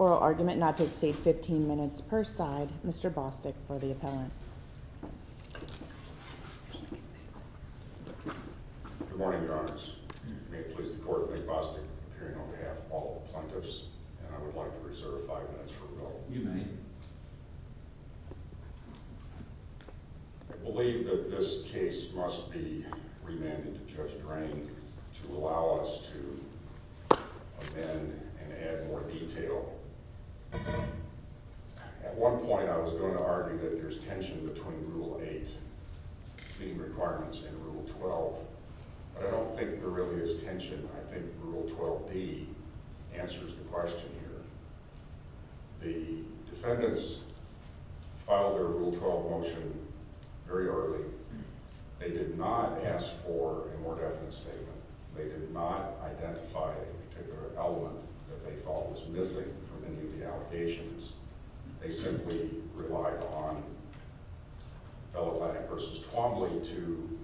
Oral argument not to exceed 15 minutes per side. Mr. Bostick for the appellant. Good morning, Your Honors. May it please the Court, I'm Nick Bostick, appearing on behalf of all the plaintiffs, and I would like to reserve five minutes for a vote. You may. Thank you. Thank you. I believe that this case must be remanded to Judge Drain to allow us to amend and add more detail. At one point, I was going to argue that there's tension between Rule 8 meeting requirements and Rule 12, but I don't think there really is tension. I think Rule 12d answers the question here. The defendants filed their Rule 12 motion very early. They did not ask for a more definite statement. They did not identify a particular element that they thought was missing from any of the allegations. They simply relied on Bellatonic v. Twombly to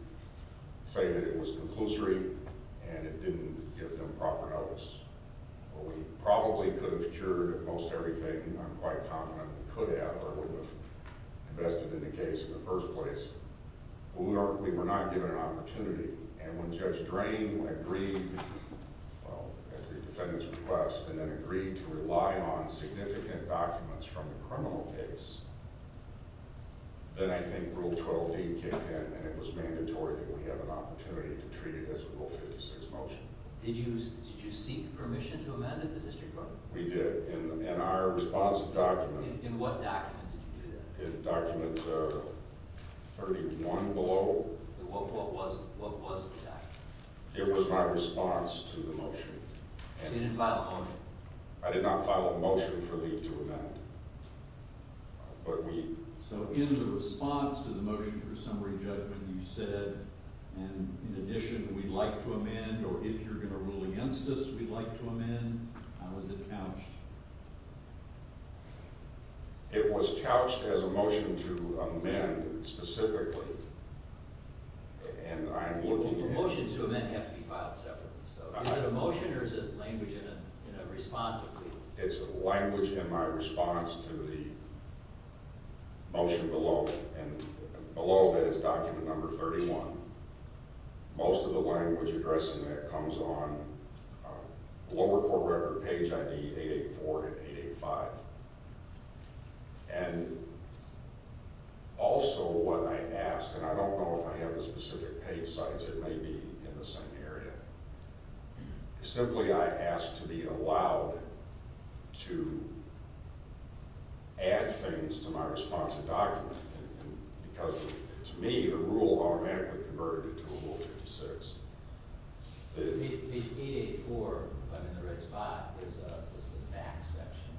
say that it was conclusory and it didn't give them proper notice. We probably could have cured most everything. I'm quite confident we could have or would have invested in the case in the first place. We were not given an opportunity, and when Judge Drain agreed at the defendant's request and then agreed to rely on significant documents from the criminal case, then I think Rule 12d kicked in and it was mandatory that we have an opportunity to treat it as a Rule 56 motion. Did you seek permission to amend it in the district court? We did. In our responsive document. In what document did you do that? In document 31 below. What was the document? It was my response to the motion. You didn't file a motion? I did not file a motion for me to amend. So in the response to the motion for summary judgment, you said, and in addition, we'd like to amend or if you're going to rule against us, we'd like to amend. How was it couched? It was couched as a motion to amend specifically, and I'm looking at it. Motions to amend have to be filed separately. So is it a motion or is it language in a response? It's language in my response to the motion below, and below that is document number 31. Most of the language addressing that comes on the lower court record page ID 884 and 885. And also what I asked, and I don't know if I have the specific page size. It may be in the same area. Simply I asked to be allowed to add things to my responsive document, because to me the rule automatically converted it to a Rule 56. The 884 in the red spot is the fact section.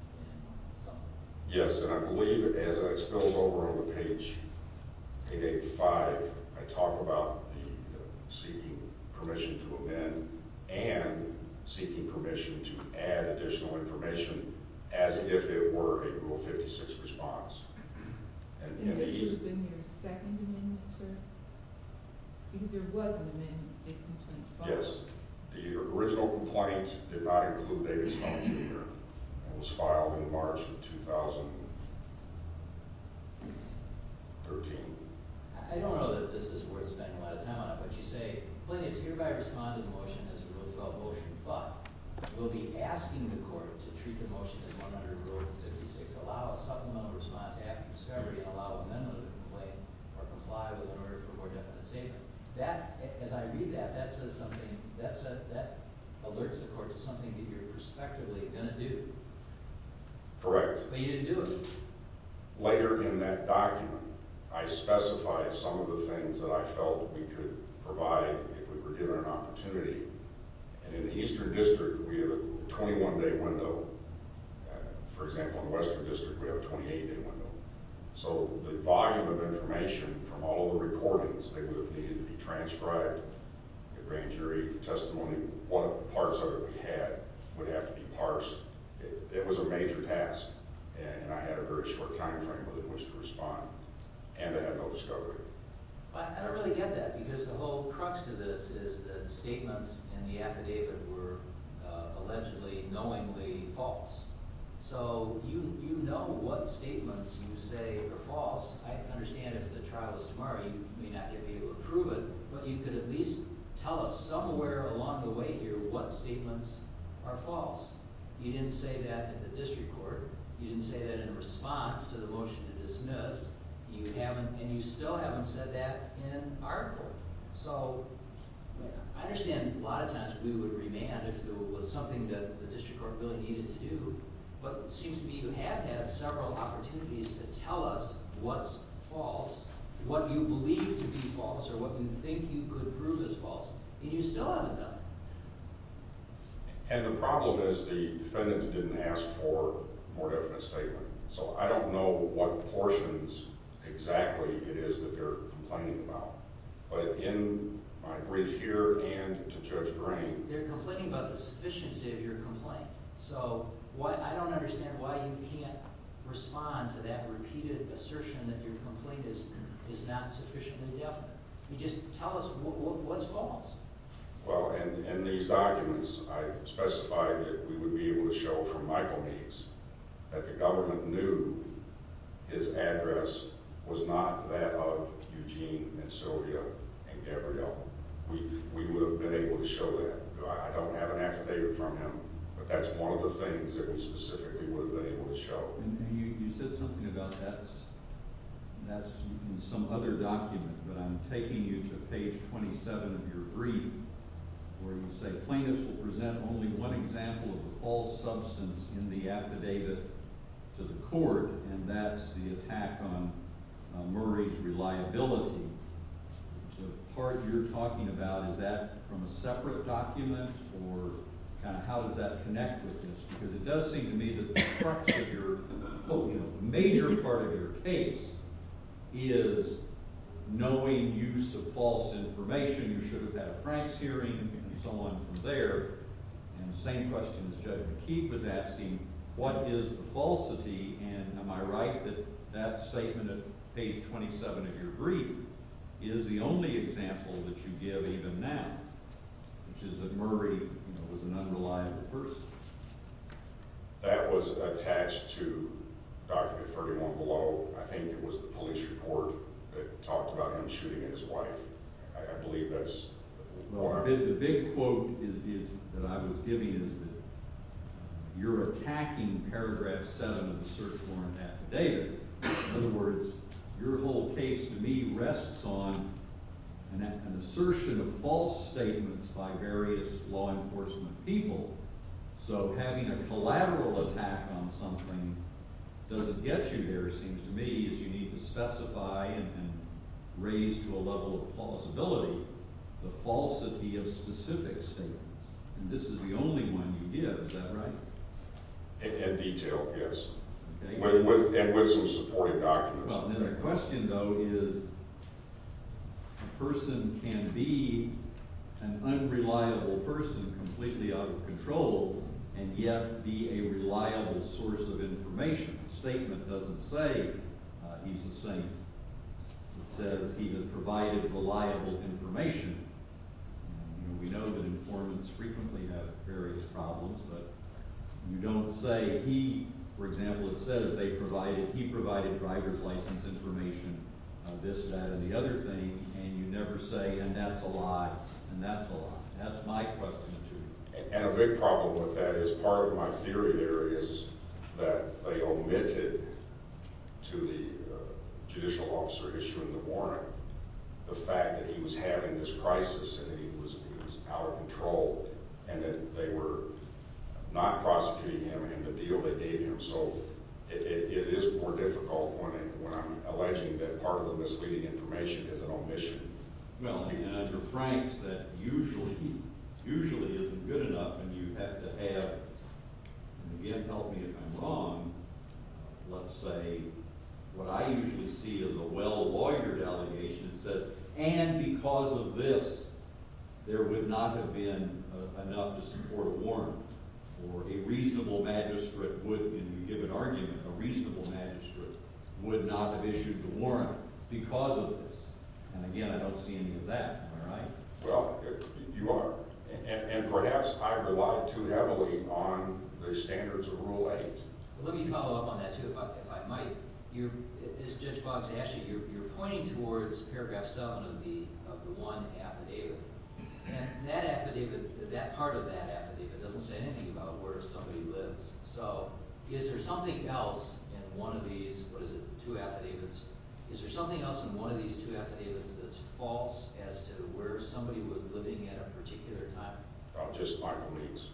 Yes, and I believe as it spills over on the page 885, I talk about the seeking permission to amend and seeking permission to add additional information as if it were a Rule 56 response. And this would have been your second amendment, sir? Because there was an amendment, a complaint filed. Yes, the original complaint did not include Avis Fung Jr. It was filed in March of 2013. I don't know that this is worth spending a lot of time on, but you say, Plaintiffs hereby respond to the motion as opposed to a motion filed. We'll be asking the court to treat the motion as 100 Rule 56, allow a supplemental response after discovery, and allow amendment of the complaint or comply with in order for more definite statement. As I read that, that says something. That alerts the court to something that you're prospectively going to do. Correct. But you didn't do it. Later in that document, I specified some of the things that I felt we could provide if we were given an opportunity. And in the Eastern District, we have a 21-day window. For example, in the Western District, we have a 28-day window. So the volume of information from all the recordings that would have needed to be transcribed, the grand jury testimony, parts of it we had would have to be parsed. It was a major task, and I had a very short time frame within which to respond. And I had no discovery. But I don't really get that because the whole crux to this is that statements in the affidavit were allegedly knowingly false. So you know what statements you say are false. I understand if the trial is tomorrow you may not be able to prove it, but you could at least tell us somewhere along the way here what statements are false. You didn't say that in the district court. You didn't say that in response to the motion to dismiss. And you still haven't said that in our court. So I understand a lot of times we would remand if there was something that the district court really needed to do. But it seems to me you have had several opportunities to tell us what's false, what you believe to be false or what you think you could prove is false, and you still haven't done it. And the problem is the defendants didn't ask for a more definite statement. So I don't know what portions exactly it is that they're complaining about. But in my brief here and to Judge Green... They're complaining about the sufficiency of your complaint. So I don't understand why you can't respond to that repeated assertion that your complaint is not sufficiently definite. Just tell us what's false. Well, in these documents, I specified that we would be able to show from Michael Meads that the government knew his address was not that of Eugene, and Sylvia, and Gabrielle. We would have been able to show that. I don't have an affidavit from him, but that's one of the things that we specifically would have been able to show. And you said something about that's in some other document, but I'm taking you to page 27 of your brief where you say plaintiffs will present only one example of a false substance in the affidavit to the court, and that's the attack on Murray's reliability. The part you're talking about, is that from a separate document? Or kind of how does that connect with this? Because it does seem to me that the crux of your, you know, major part of your case is knowing use of false information. You should have had a Franks hearing and so on from there. And the same question as Judge McKeith was asking, what is the falsity? And am I right that that statement at page 27 of your brief is the only example that you give even now, which is that Murray, you know, was an unreliable person? That was attached to document 31 below. I think it was the police report that talked about him shooting at his wife. I believe that's part of it. The big quote that I was giving is that you're attacking paragraph 7 of the search warrant affidavit. In other words, your whole case to me rests on an assertion of false statements by various law enforcement people. So having a collateral attack on something doesn't get you there, it seems to me, is you need to specify and raise to a level of plausibility the falsity of specific statements. And this is the only one you give, is that right? In detail, yes. And with some supporting documents. Well, then the question, though, is a person can be an unreliable person completely out of control and yet be a reliable source of information. The statement doesn't say he's a saint. It says he has provided reliable information. We know that informants frequently have various problems, but you don't say he, for example, it says he provided driver's license information, this, that, and the other thing, and you never say, and that's a lie, and that's a lie. That's my question to you. And a big problem with that is part of my theory there is that they omitted to the judicial officer in the warrant the fact that he was having this crisis and that he was out of control and that they were not prosecuting him in the deal they gave him. So it is more difficult when I'm alleging that part of the misleading information is an omission. Well, and under Frank's, that usually isn't good enough, and you have to have, and again, help me if I'm wrong, let's say what I usually see is a well-lawyered allegation that says, and because of this, there would not have been enough to support a warrant or a reasonable magistrate would, if you give an argument, a reasonable magistrate would not have issued the warrant because of this. And again, I don't see any of that. Am I right? Well, you are, and perhaps I rely too heavily on the standards of Rule 8. Let me follow up on that, too, if I might. As Judge Boggs asked you, you're pointing towards Paragraph 7 of the 1 affidavit, and that affidavit, that part of that affidavit doesn't say anything about where somebody lives. So is there something else in one of these, what is it, two affidavits, is there something else in one of these two affidavits that's false as to where somebody was living at a particular time? Oh, just my beliefs.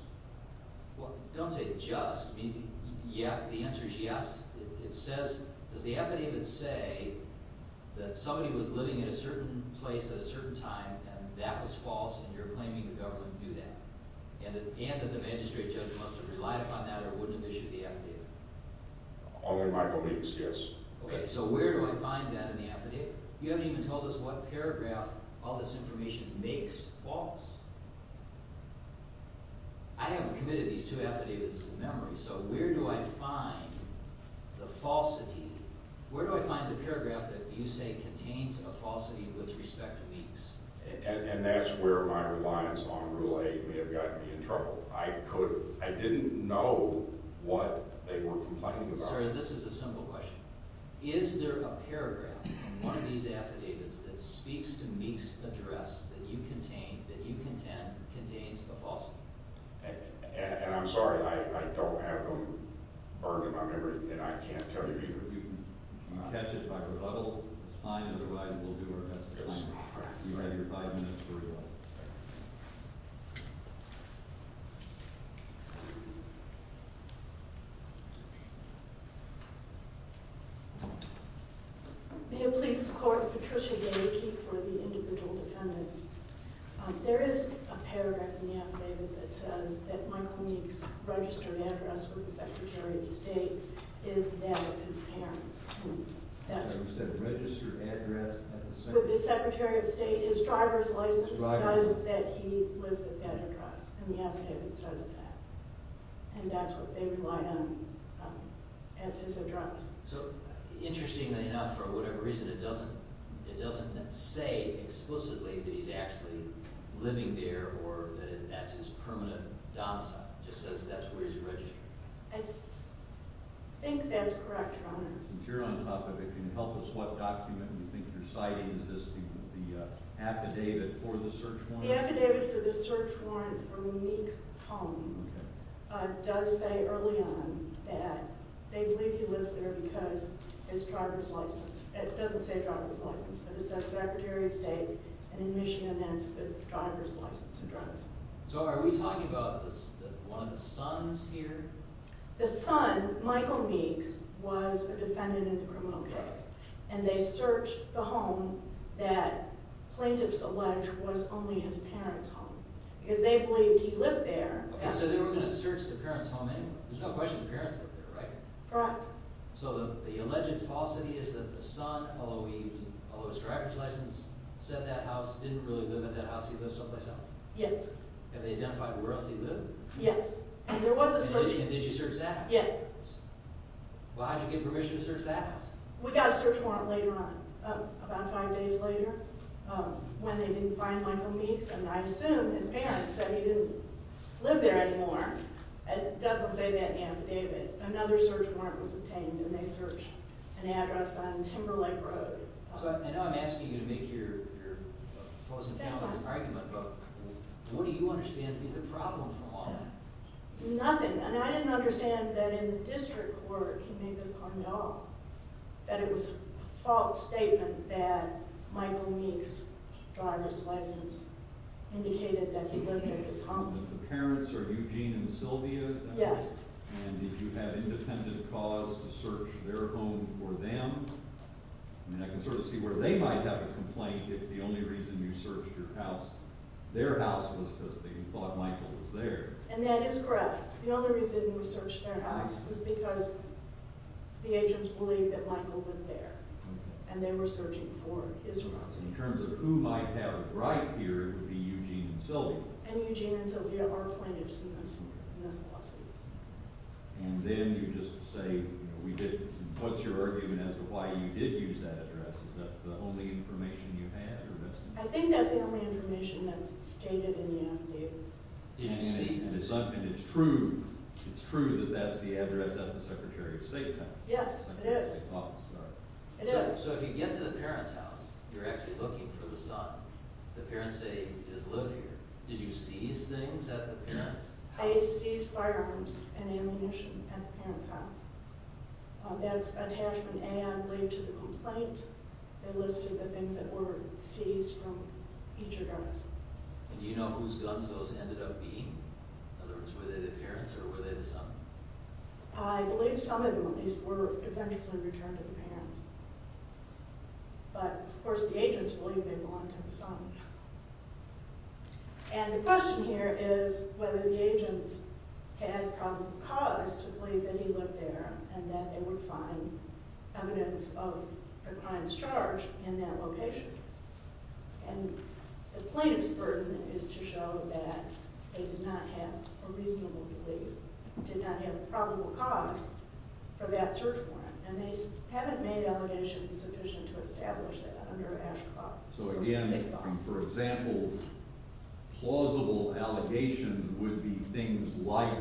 Well, don't say just. The answer is yes. It says, does the affidavit say that somebody was living in a certain place at a certain time, and that was false, and you're claiming the government knew that, and that the magistrate judge must have relied upon that or wouldn't have issued the affidavit? Only my beliefs, yes. Okay, so where do I find that in the affidavit? You haven't even told us what paragraph all this information makes false. I haven't committed these two affidavits to memory, so where do I find the falsity, where do I find the paragraph that you say contains a falsity with respect to Meeks? And that's where my reliance on Rule 8 may have gotten me in trouble. I couldn't, I didn't know what they were complaining about. I'm sorry, this is a simple question. Is there a paragraph in one of these affidavits that speaks to Meeks' address that you contend contains a falsity? And I'm sorry, I don't have them burned in my memory, and I can't tell you either. You can catch it by rebuttal. It's fine, otherwise we'll do our best to find it. You have your five minutes to rebuttal. May it please the Court, Patricia Day, Key for the Individual Defendants. There is a paragraph in the affidavit that says that Michael Meeks' registered address with the Secretary of State is that of his parents. You said registered address at the Secretary of State? With the Secretary of State, his driver's license says that he lives at Bedford House, and the affidavit says that, and that's what they relied on as his address. So, interestingly enough, for whatever reason, it doesn't say explicitly that he's actually living there or that that's his permanent domicile. It just says that's where he's registered. I think that's correct, Your Honor. Since you're on the topic, can you help us what document you think you're citing? Is this the affidavit for the search warrant? The affidavit for Meeks' home does say early on that they believe he lives there because his driver's license. It doesn't say driver's license, but it says Secretary of State, and in Michigan, that's the driver's license address. So are we talking about one of the sons here? The son, Michael Meeks, was a defendant in the criminal case, and they searched the home that plaintiffs allege was only his parents' home because they believed he lived there. Okay, so they were going to search the parents' home anyway? There's no question the parents lived there, right? Correct. So the alleged falsity is that the son, although his driver's license said that house, didn't really live in that house. He lived someplace else? Yes. Have they identified where else he lived? Yes, and there was a search warrant. Did you search that? Yes. Well, how'd you get permission to search that house? We got a search warrant later on, about five days later, when they didn't find Michael Meeks, and I assume his parents said he didn't live there anymore. It doesn't say that in the affidavit. Another search warrant was obtained, and they searched an address on Timberlake Road. So I know I'm asking you to make your closing argument, but what do you understand to be the problem from all that? Nothing, and I didn't understand that in the district court he made this argument at all, that it was a false statement that Michael Meeks' driver's license indicated that he lived in his home. The parents are Eugene and Sylvia? Yes. And did you have independent cause to search their home for them? I mean, I can sort of see where they might have a complaint if the only reason you searched their house was because they thought Michael was there. And that is correct. The only reason we searched their house was because the agents believed that Michael lived there, and they were searching for his house. In terms of who might have a right here, it would be Eugene and Sylvia. And Eugene and Sylvia are plaintiffs in this lawsuit. And then you just say, what's your argument as to why you did use that address? Is that the only information you had? I think that's the only information that's stated in the affidavit. Did you see? And it's true that that's the address of the Secretary of State's house? Yes, it is. Oh, sorry. It is. So if you get to the parents' house, you're actually looking for the son. The parents say he does live here. Did you seize things at the parents' house? I seized firearms and ammunition at the parents' house. That's attachment A, I believe, to the complaint. It listed the things that were seized from each of us. And do you know whose guns those ended up being? In other words, were they the parents' or were they the sons'? I believe some of them, at least, were eventually returned to the parents. But, of course, the agents believe they belonged to the sons. And the question here is whether the agents had come to cause to believe that he lived there and that they would find evidence of the crime's charge in that location. And the plaintiff's burden is to show that they did not have a reasonable belief, did not have a probable cause for that search warrant. And they haven't made allegations sufficient to establish that under Ashcroft. So, again, for example, plausible allegations would be things like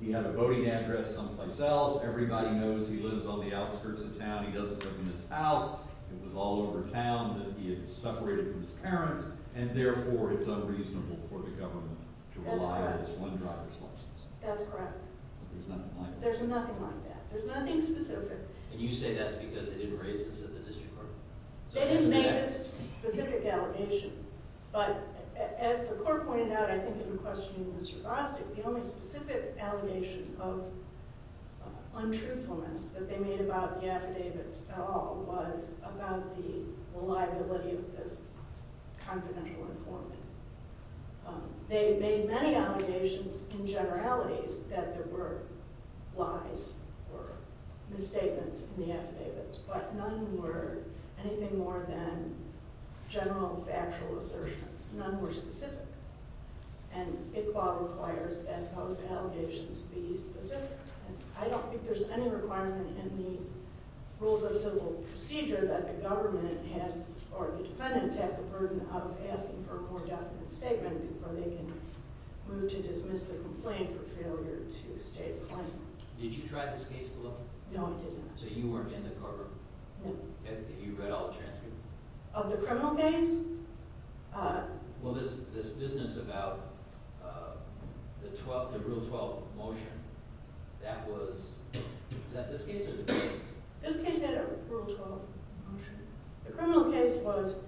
he had a voting address someplace else, everybody knows he lives on the outskirts of town, he doesn't live in this house, it was all over town that he had separated from his parents, and therefore it's unreasonable for the government to rely on this one driver's license. That's correct. But there's nothing like that. There's nothing like that. There's nothing specific. And you say that's because they didn't raise this at the district court? They didn't make this specific allegation. But, as the court pointed out, I think if you're questioning Mr. Bostic, the only specific allegation of untruthfulness that they made about the affidavits at all was about the reliability of this confidential informant. They made many allegations in generalities that there were lies or misstatements in the affidavits, but none were anything more than general factual assertions. None were specific. And ICBA requires that those allegations be specific. I don't think there's any requirement in the Rules of Civil Procedure that the government has, or the defendants have the burden of asking for a more definite statement before they can move to dismiss the complaint for failure to state the claim. Did you try this case, Willow? No, I did not. So you weren't in the courtroom? No. You read all the transcripts? Of the criminal case? Well, this business about the Rule 12 motion, that was... Was that this case or the criminal case? This case had a Rule 12 motion. The criminal case was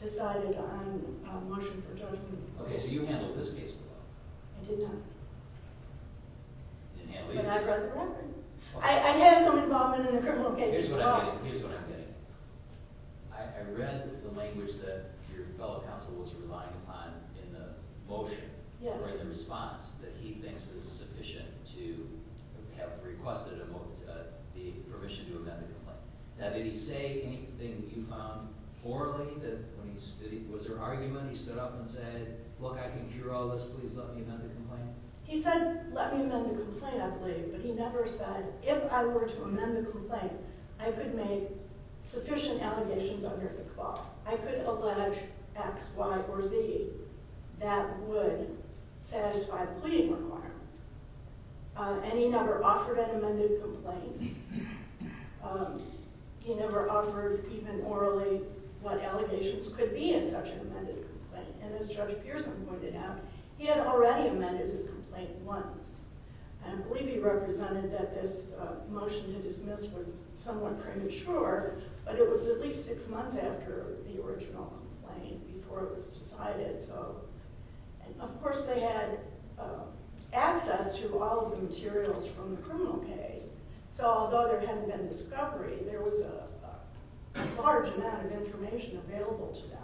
decided on a motion for judgment. Okay, so you handled this case, Willow. I did not. You didn't handle it? But I read the record. I had some involvement in the criminal case as well. Here's what I'm getting at. I read the language that your fellow counsel was relying upon in the motion, or in the response, that he thinks is sufficient to have requested the permission to amend the complaint. Now, did he say anything that you found poorly? Was there argument? He stood up and said, Look, I can cure all this, please let me amend the complaint? He said, let me amend the complaint, I believe. But he never said, if I were to amend the complaint, I could make sufficient allegations under the law. I could allege X, Y, or Z that would satisfy the pleading requirements. And he never offered an amended complaint. He never offered, even orally, what allegations could be in such an amended complaint. And as Judge Pearson pointed out, he had already amended his complaint once. And I believe he represented that this motion to dismiss was somewhat premature, but it was at least six months after the original complaint, before it was decided. Of course, they had access to all of the materials from the criminal case. So although there hadn't been discovery, there was a large amount of information available to them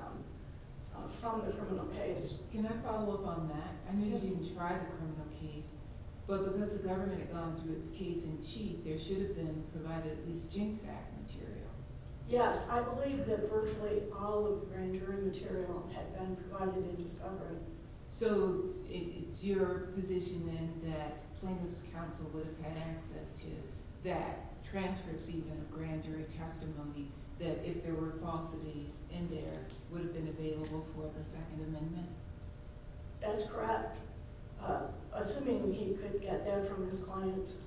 from the criminal case. Can I follow up on that? I know you haven't even tried the criminal case, but because the government had gone through its case in chief, there should have been provided at least GINSAC material. Yes, I believe that virtually all of the grand jury material had been provided in discovery. So it's your position, then, that Plaintiffs' Council would have had access to that, transcripts even of grand jury testimony, that if there were falsities in there, would have been available for the Second Amendment? That's correct. Assuming he could get that from his client's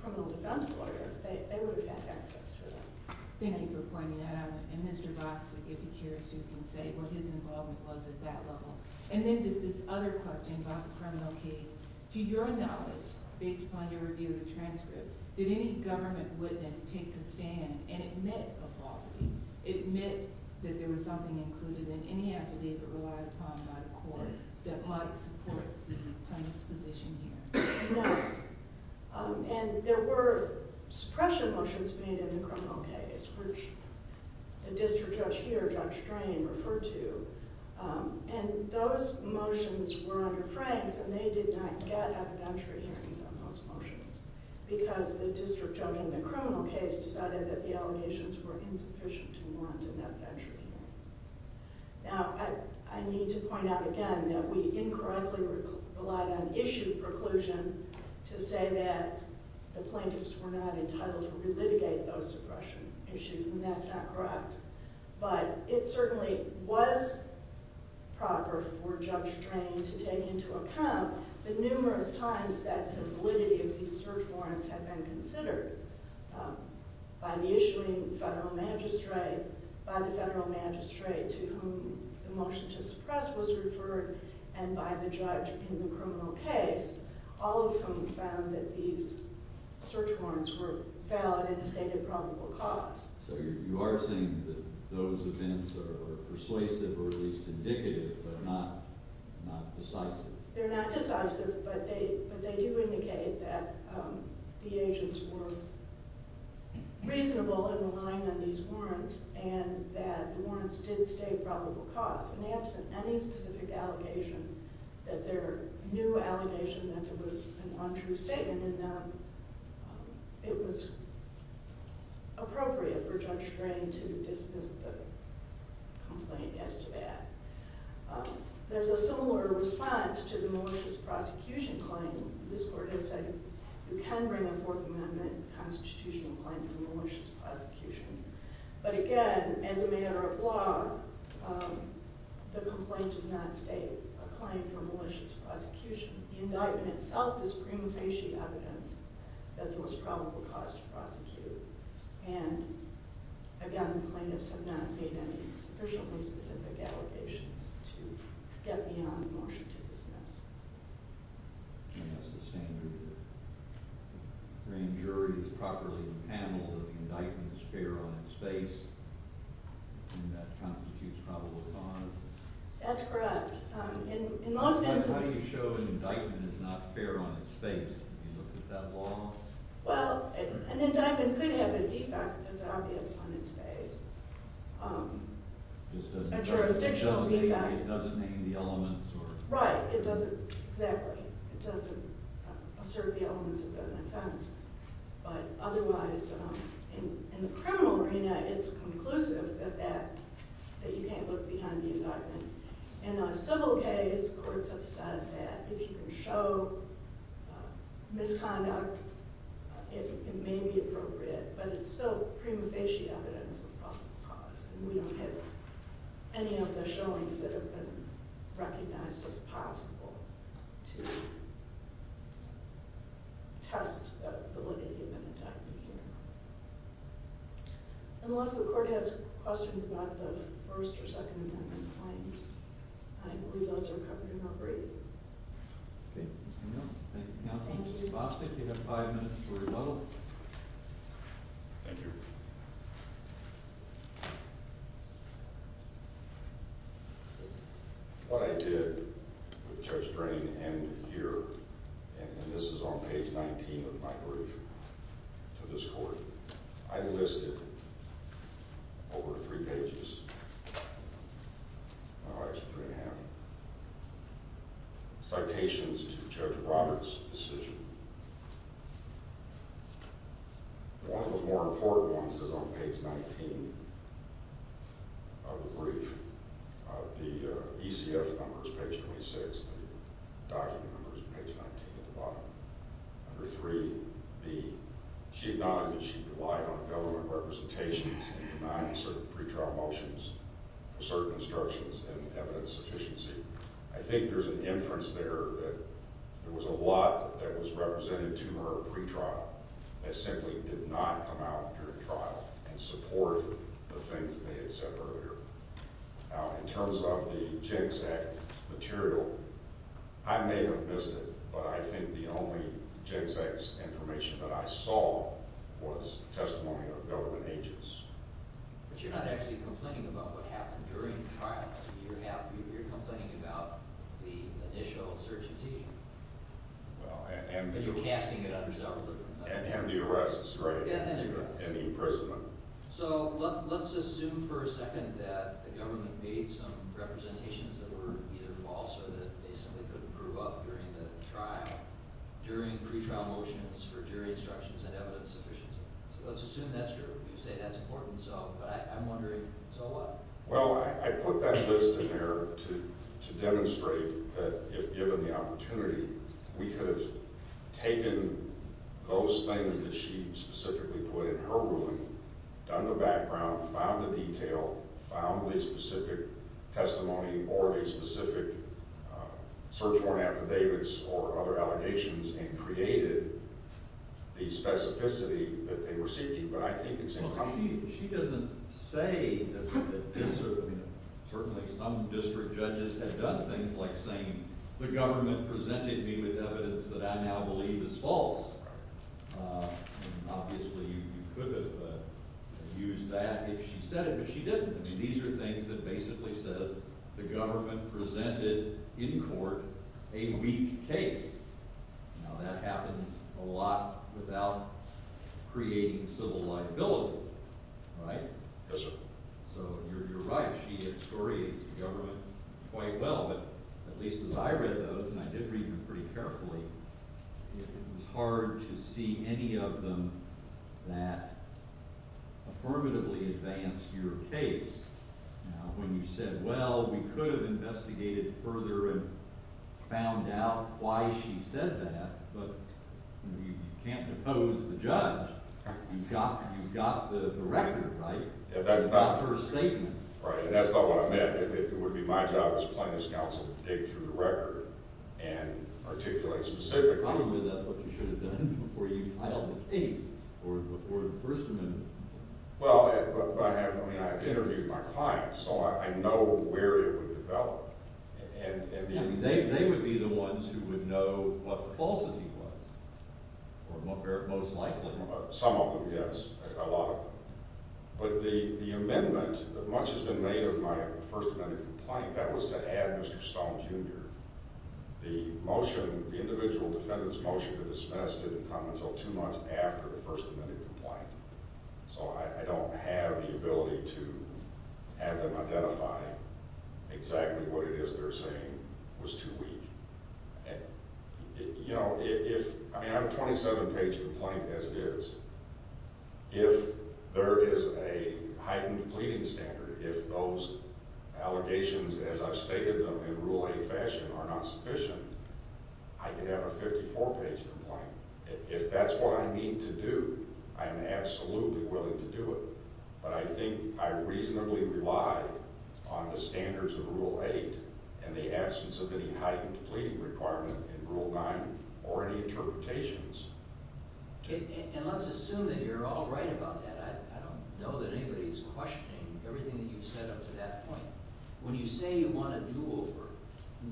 criminal defense lawyer, they would have had access to that. Thank you for pointing that out. And Mr. Vosick, if he cares to, can say what his involvement was at that level. And then just this other question about the criminal case. To your knowledge, based upon your review of the transcript, did any government witness take the stand and admit a falsity, admit that there was something included in any affidavit relied upon by the court that might support the plaintiff's position here? No. And there were suppression motions made in the criminal case, which the district judge here, Judge Drain, referred to. And those motions were under Frank's, and they did not get adventure hearings on those motions because the district judge in the criminal case decided that the allegations were insufficient to warrant an adventure hearing. Now, I need to point out again that we incorrectly relied on issue preclusion to say that the plaintiffs were not entitled to relitigate those suppression issues, and that's not correct. But it certainly was proper for Judge Drain to take into account the numerous times that the validity of these search warrants had been considered by the issuing federal magistrate, by the federal magistrate to whom the motion to suppress was referred, and by the judge in the criminal case, all of whom found that these search warrants were valid and stated probable cause. So you are saying that those events are persuasive or at least indicative, but not decisive. They're not decisive, but they do indicate that the agents were reasonable in relying on these warrants and that the warrants did state probable cause. And they absent any specific allegation that their new allegation that there was an untrue statement in them, it was appropriate for Judge Drain to dismiss the complaint as to that. There's a similar response to the malicious prosecution claim. This court is saying you can bring a Fourth Amendment constitutional claim for malicious prosecution. But again, as a matter of law, the complaint does not state a claim for malicious prosecution. The indictment itself is prima facie evidence that there was probable cause to prosecute. And again, plaintiffs have not made any sufficiently specific allegations to get beyond the motion to dismiss. And that's the standard. Drain jury has properly handled that the indictment is fair on its face and that constitutes probable cause. That's correct. That's how you show an indictment is not fair on its face, if you look at that law. Well, an indictment could have a defect that's obvious on its face, a jurisdictional defect. It doesn't name the elements. Right, exactly. It doesn't assert the elements of an offense. But otherwise, in the criminal arena, it's conclusive that you can't look behind the indictment. In a civil case, courts have said that if you can show misconduct, it may be appropriate. But it's still prima facie evidence of probable cause. And we don't have any of the showings that have been recognized as possible to test the validity of an indictment here. Unless the court has questions about the first or second indictment claims, I believe those are covered in our brief. Okay. Thank you, counsel. Ms. Bostic, you have five minutes for rebuttal. Thank you. What I did with Judge Drain ended here. And this is on page 19 of my brief to this court. I listed over three pages. No, actually three and a half. Citations to Judge Roberts' decision. One of the more important ones is on page 19 of the brief. The ECF number is page 26. The document number is page 19 at the bottom. Under 3B, she acknowledged that she relied on government representations in denying certain pretrial motions for certain instructions and evidence sufficiency. I think there's an inference there that there was a lot that was represented to her at pretrial that simply did not come out during trial and support the things that they had said earlier. Now, in terms of the GenSec material, I may have missed it, but I think the only GenSec information that I saw was testimony of government agents. But you're not actually complaining about what happened during the trial. You're complaining about the initial insurgency. And the arrests, right, and the imprisonment. So let's assume for a second that the government made some representations that were either false or that they simply couldn't prove up during the trial during pretrial motions for jury instructions and evidence sufficiency. So let's assume that's true. You say that's important, but I'm wondering, so what? Well, I put that list in there to demonstrate that if given the opportunity, we could have taken those things that she specifically put in her ruling, done the background, found the detail, found the specific testimony or the specific search warrant affidavits or other allegations and created the specificity that they were seeking. But I think it's incomplete. Well, she doesn't say that – certainly some district judges have done things like saying the government presented me with evidence that I now believe is false. Obviously, you could have used that if she said it, but she didn't. These are things that basically says the government presented in court a weak case. Now, that happens a lot without creating civil liability, right? Yes, sir. So you're right. She excoriates the government quite well. But at least as I read those, and I did read them pretty carefully, it was hard to see any of them that affirmatively advanced your case. Now, when you said, well, we could have investigated further and found out why she said that, but you can't depose the judge. You've got the record, right? That's not – Not her statement. Right, and that's not what I meant. It would be my job as plaintiff's counsel to dig through the record and articulate specifically. Probably that's what you should have done before you filed the case or before the first amendment. Well, but I have – I mean, I've interviewed my clients, so I know where it would develop. I mean, they would be the ones who would know what the falsity was or most likely. Some of them, yes, a lot of them. But the amendment, much has been made of my first amendment complaint, that was to add Mr. Stone, Jr. The motion, the individual defendant's motion to dismiss didn't come until two months after the first amendment complaint. So I don't have the ability to have them identify exactly what it is they're saying was too weak. You know, if – I mean, I have a 27-page complaint, as it is. If there is a heightened pleading standard, if those allegations, as I've stated them in Rule 8 fashion, are not sufficient, I could have a 54-page complaint. If that's what I need to do, I am absolutely willing to do it. But I think I reasonably rely on the standards of Rule 8 and the absence of any heightened pleading requirement in Rule 9 or any interpretations. And let's assume that you're all right about that. I don't know that anybody's questioning everything that you've said up to that point. When you say you want a do-over,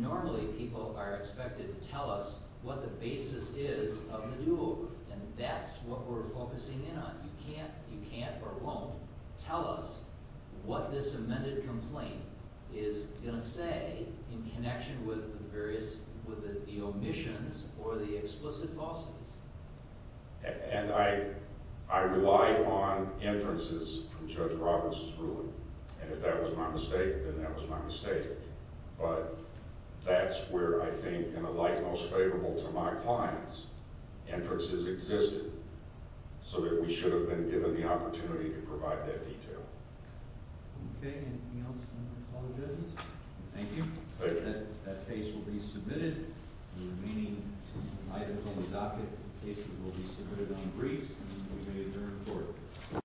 normally people are expected to tell us what the basis is of the do-over, and that's what we're focusing in on. You can't or won't tell us what this amended complaint is going to say in connection with the various – with the omissions or the explicit falsities. And I rely on inferences from Judge Roberts' ruling. And if that was my mistake, then that was my mistake. But that's where I think, in a light most favorable to my clients, inferences existed, so that we should have been given the opportunity to provide that detail. Okay. Anything else you want to apologize? Thank you. Thank you. That case will be submitted. The remaining items on the docket cases will be submitted on briefs, and we may adjourn for it.